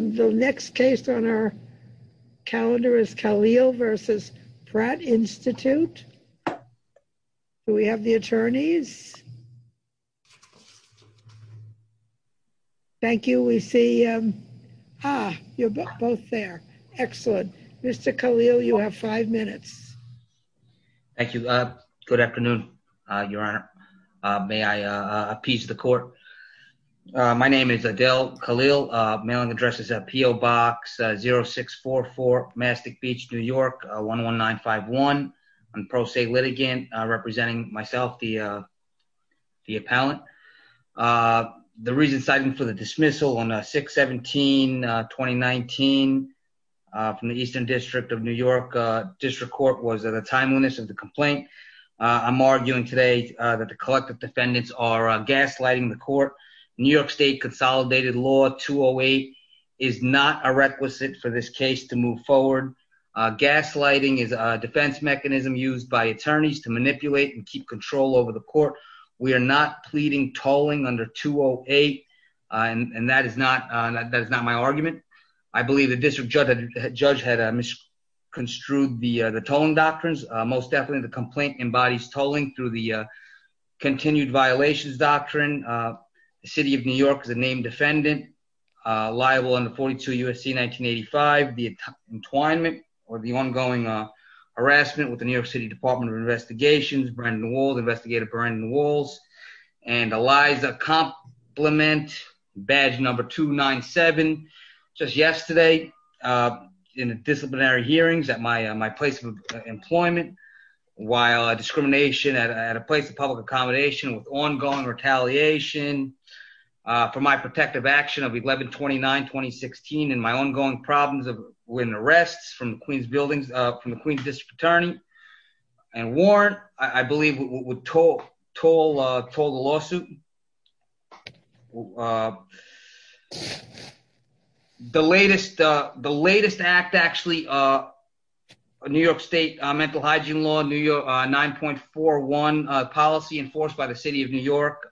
The next case on our calendar is Khalil v. Pratt Institute. Do we have the attorneys? Thank you. We see, ah, you're both there. Excellent. Mr. Khalil, you have five minutes. Thank you. Good afternoon, Your Honor. May I appease the court? My name is Adele Khalil. Mailing address is at P.O. Box 0644 Mastic Beach, New York 11951. I'm a pro se litigant representing myself, the appellant. The reason citing for the dismissal on 6-17-2019 from the Eastern District of New York District Court was the timeliness of the complaint. I'm arguing today that the collective defendants are gaslighting the court. New York State Consolidated Law 208 is not a requisite for this case to move forward. Gaslighting is a defense mechanism used by attorneys to manipulate and keep control over the court. We are not pleading tolling under 208, and that is not my argument. I believe the district judge had misconstrued the tolling doctrines. Most definitely, the complaint embodies tolling through the defendant liable under 42 U.S.C. 1985, the entwinement or the ongoing harassment with the New York City Department of Investigations, Brandon Walls, Investigator Brandon Walls, and Eliza Compliment, badge number 297. Just yesterday, in disciplinary hearings at my place of employment, while discrimination at a place of public accommodation with ongoing retaliation for my protective action of 11-29-2016 and my ongoing problems with arrests from the Queens District Attorney and warrant, I believe would toll the lawsuit. The latest act, actually, New York State Mental Hygiene Law 9.41 policy enforced by the City of New York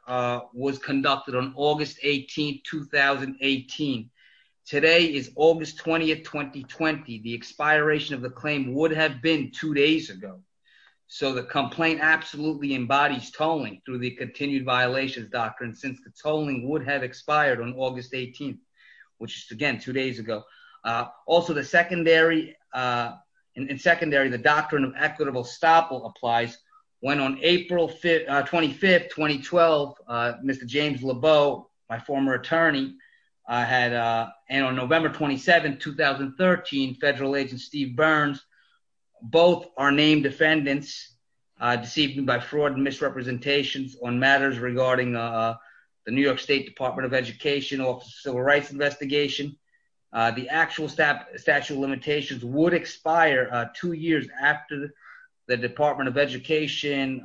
was conducted on August 18, 2018. Today is August 20, 2020. The expiration of the claim would have been two days ago. So the complaint absolutely embodies tolling through the continued violations doctrine since the tolling would have expired on August 18, which is, again, two days ago. Also, in secondary, the doctrine of equitable stopple applies when on April 25, 2012, Mr. James Lebeau, my former attorney, and on November 27, 2013, federal agent Steve Burns, both are named defendants, deceived by fraud and misrepresentations on matters regarding the New York State Department of Education Office of Civil Rights investigation. The actual statute of limitations would expire two years after the Department of Education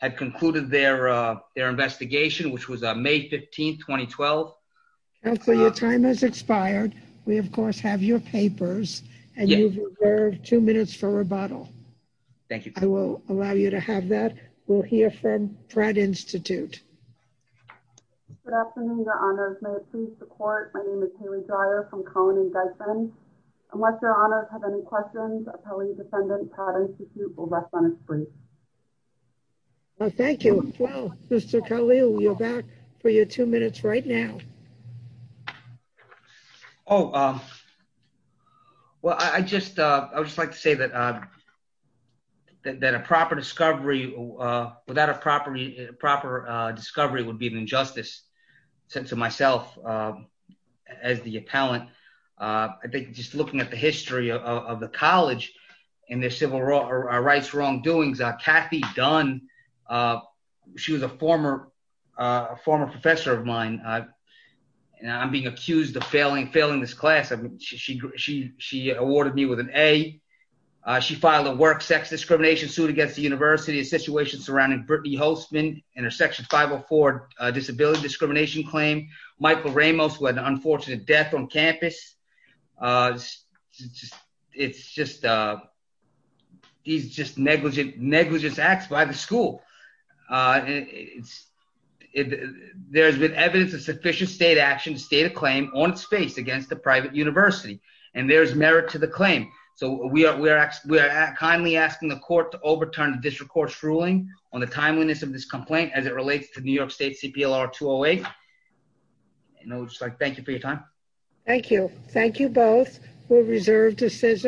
had concluded their investigation, which was May 15, 2012. Counselor, your time has expired. We, of course, have your papers. And you've reserved two minutes for rebuttal. Thank you. I will allow you to have that. We'll hear from Pratt Institute. Good afternoon, Your Honors. May it please the court, my name is Haley Dyer from Collin and Desmond. Unless Your Honors have any questions, Appellee Defendant Pratt Institute will rest on its feet. Thank you. Mr. Khalil, you're back for your two minutes right now. Oh, well, I just, I would just like to say that, that a proper discovery, without a proper, a proper discovery would be an injustice. Since to myself, as the appellant, I think just looking at the history of the college and their civil rights wrongdoings, Kathy Dunn, she was a former, a former professor of mine. And I'm being accused of failing, failing this class. I mean, she, she, she, she awarded me with an A. She filed a work sex discrimination suit against the university and situations surrounding Brittany Holtzman and her Section 504 disability discrimination claim. Michael Ramos, who had an unfortunate death on campus. It's just, these just negligent, negligent acts by the school. It's, there's been evidence of sufficient state action to state a claim on its face against the private university and there's merit to the claim. So we are, we are, we are kindly asking the court to overturn the district court's ruling on the timeliness of this complaint as it relates to New York State CPLR 208. And I would just like, thank you for your time. Thank you. Thank you both. We'll reserve decision.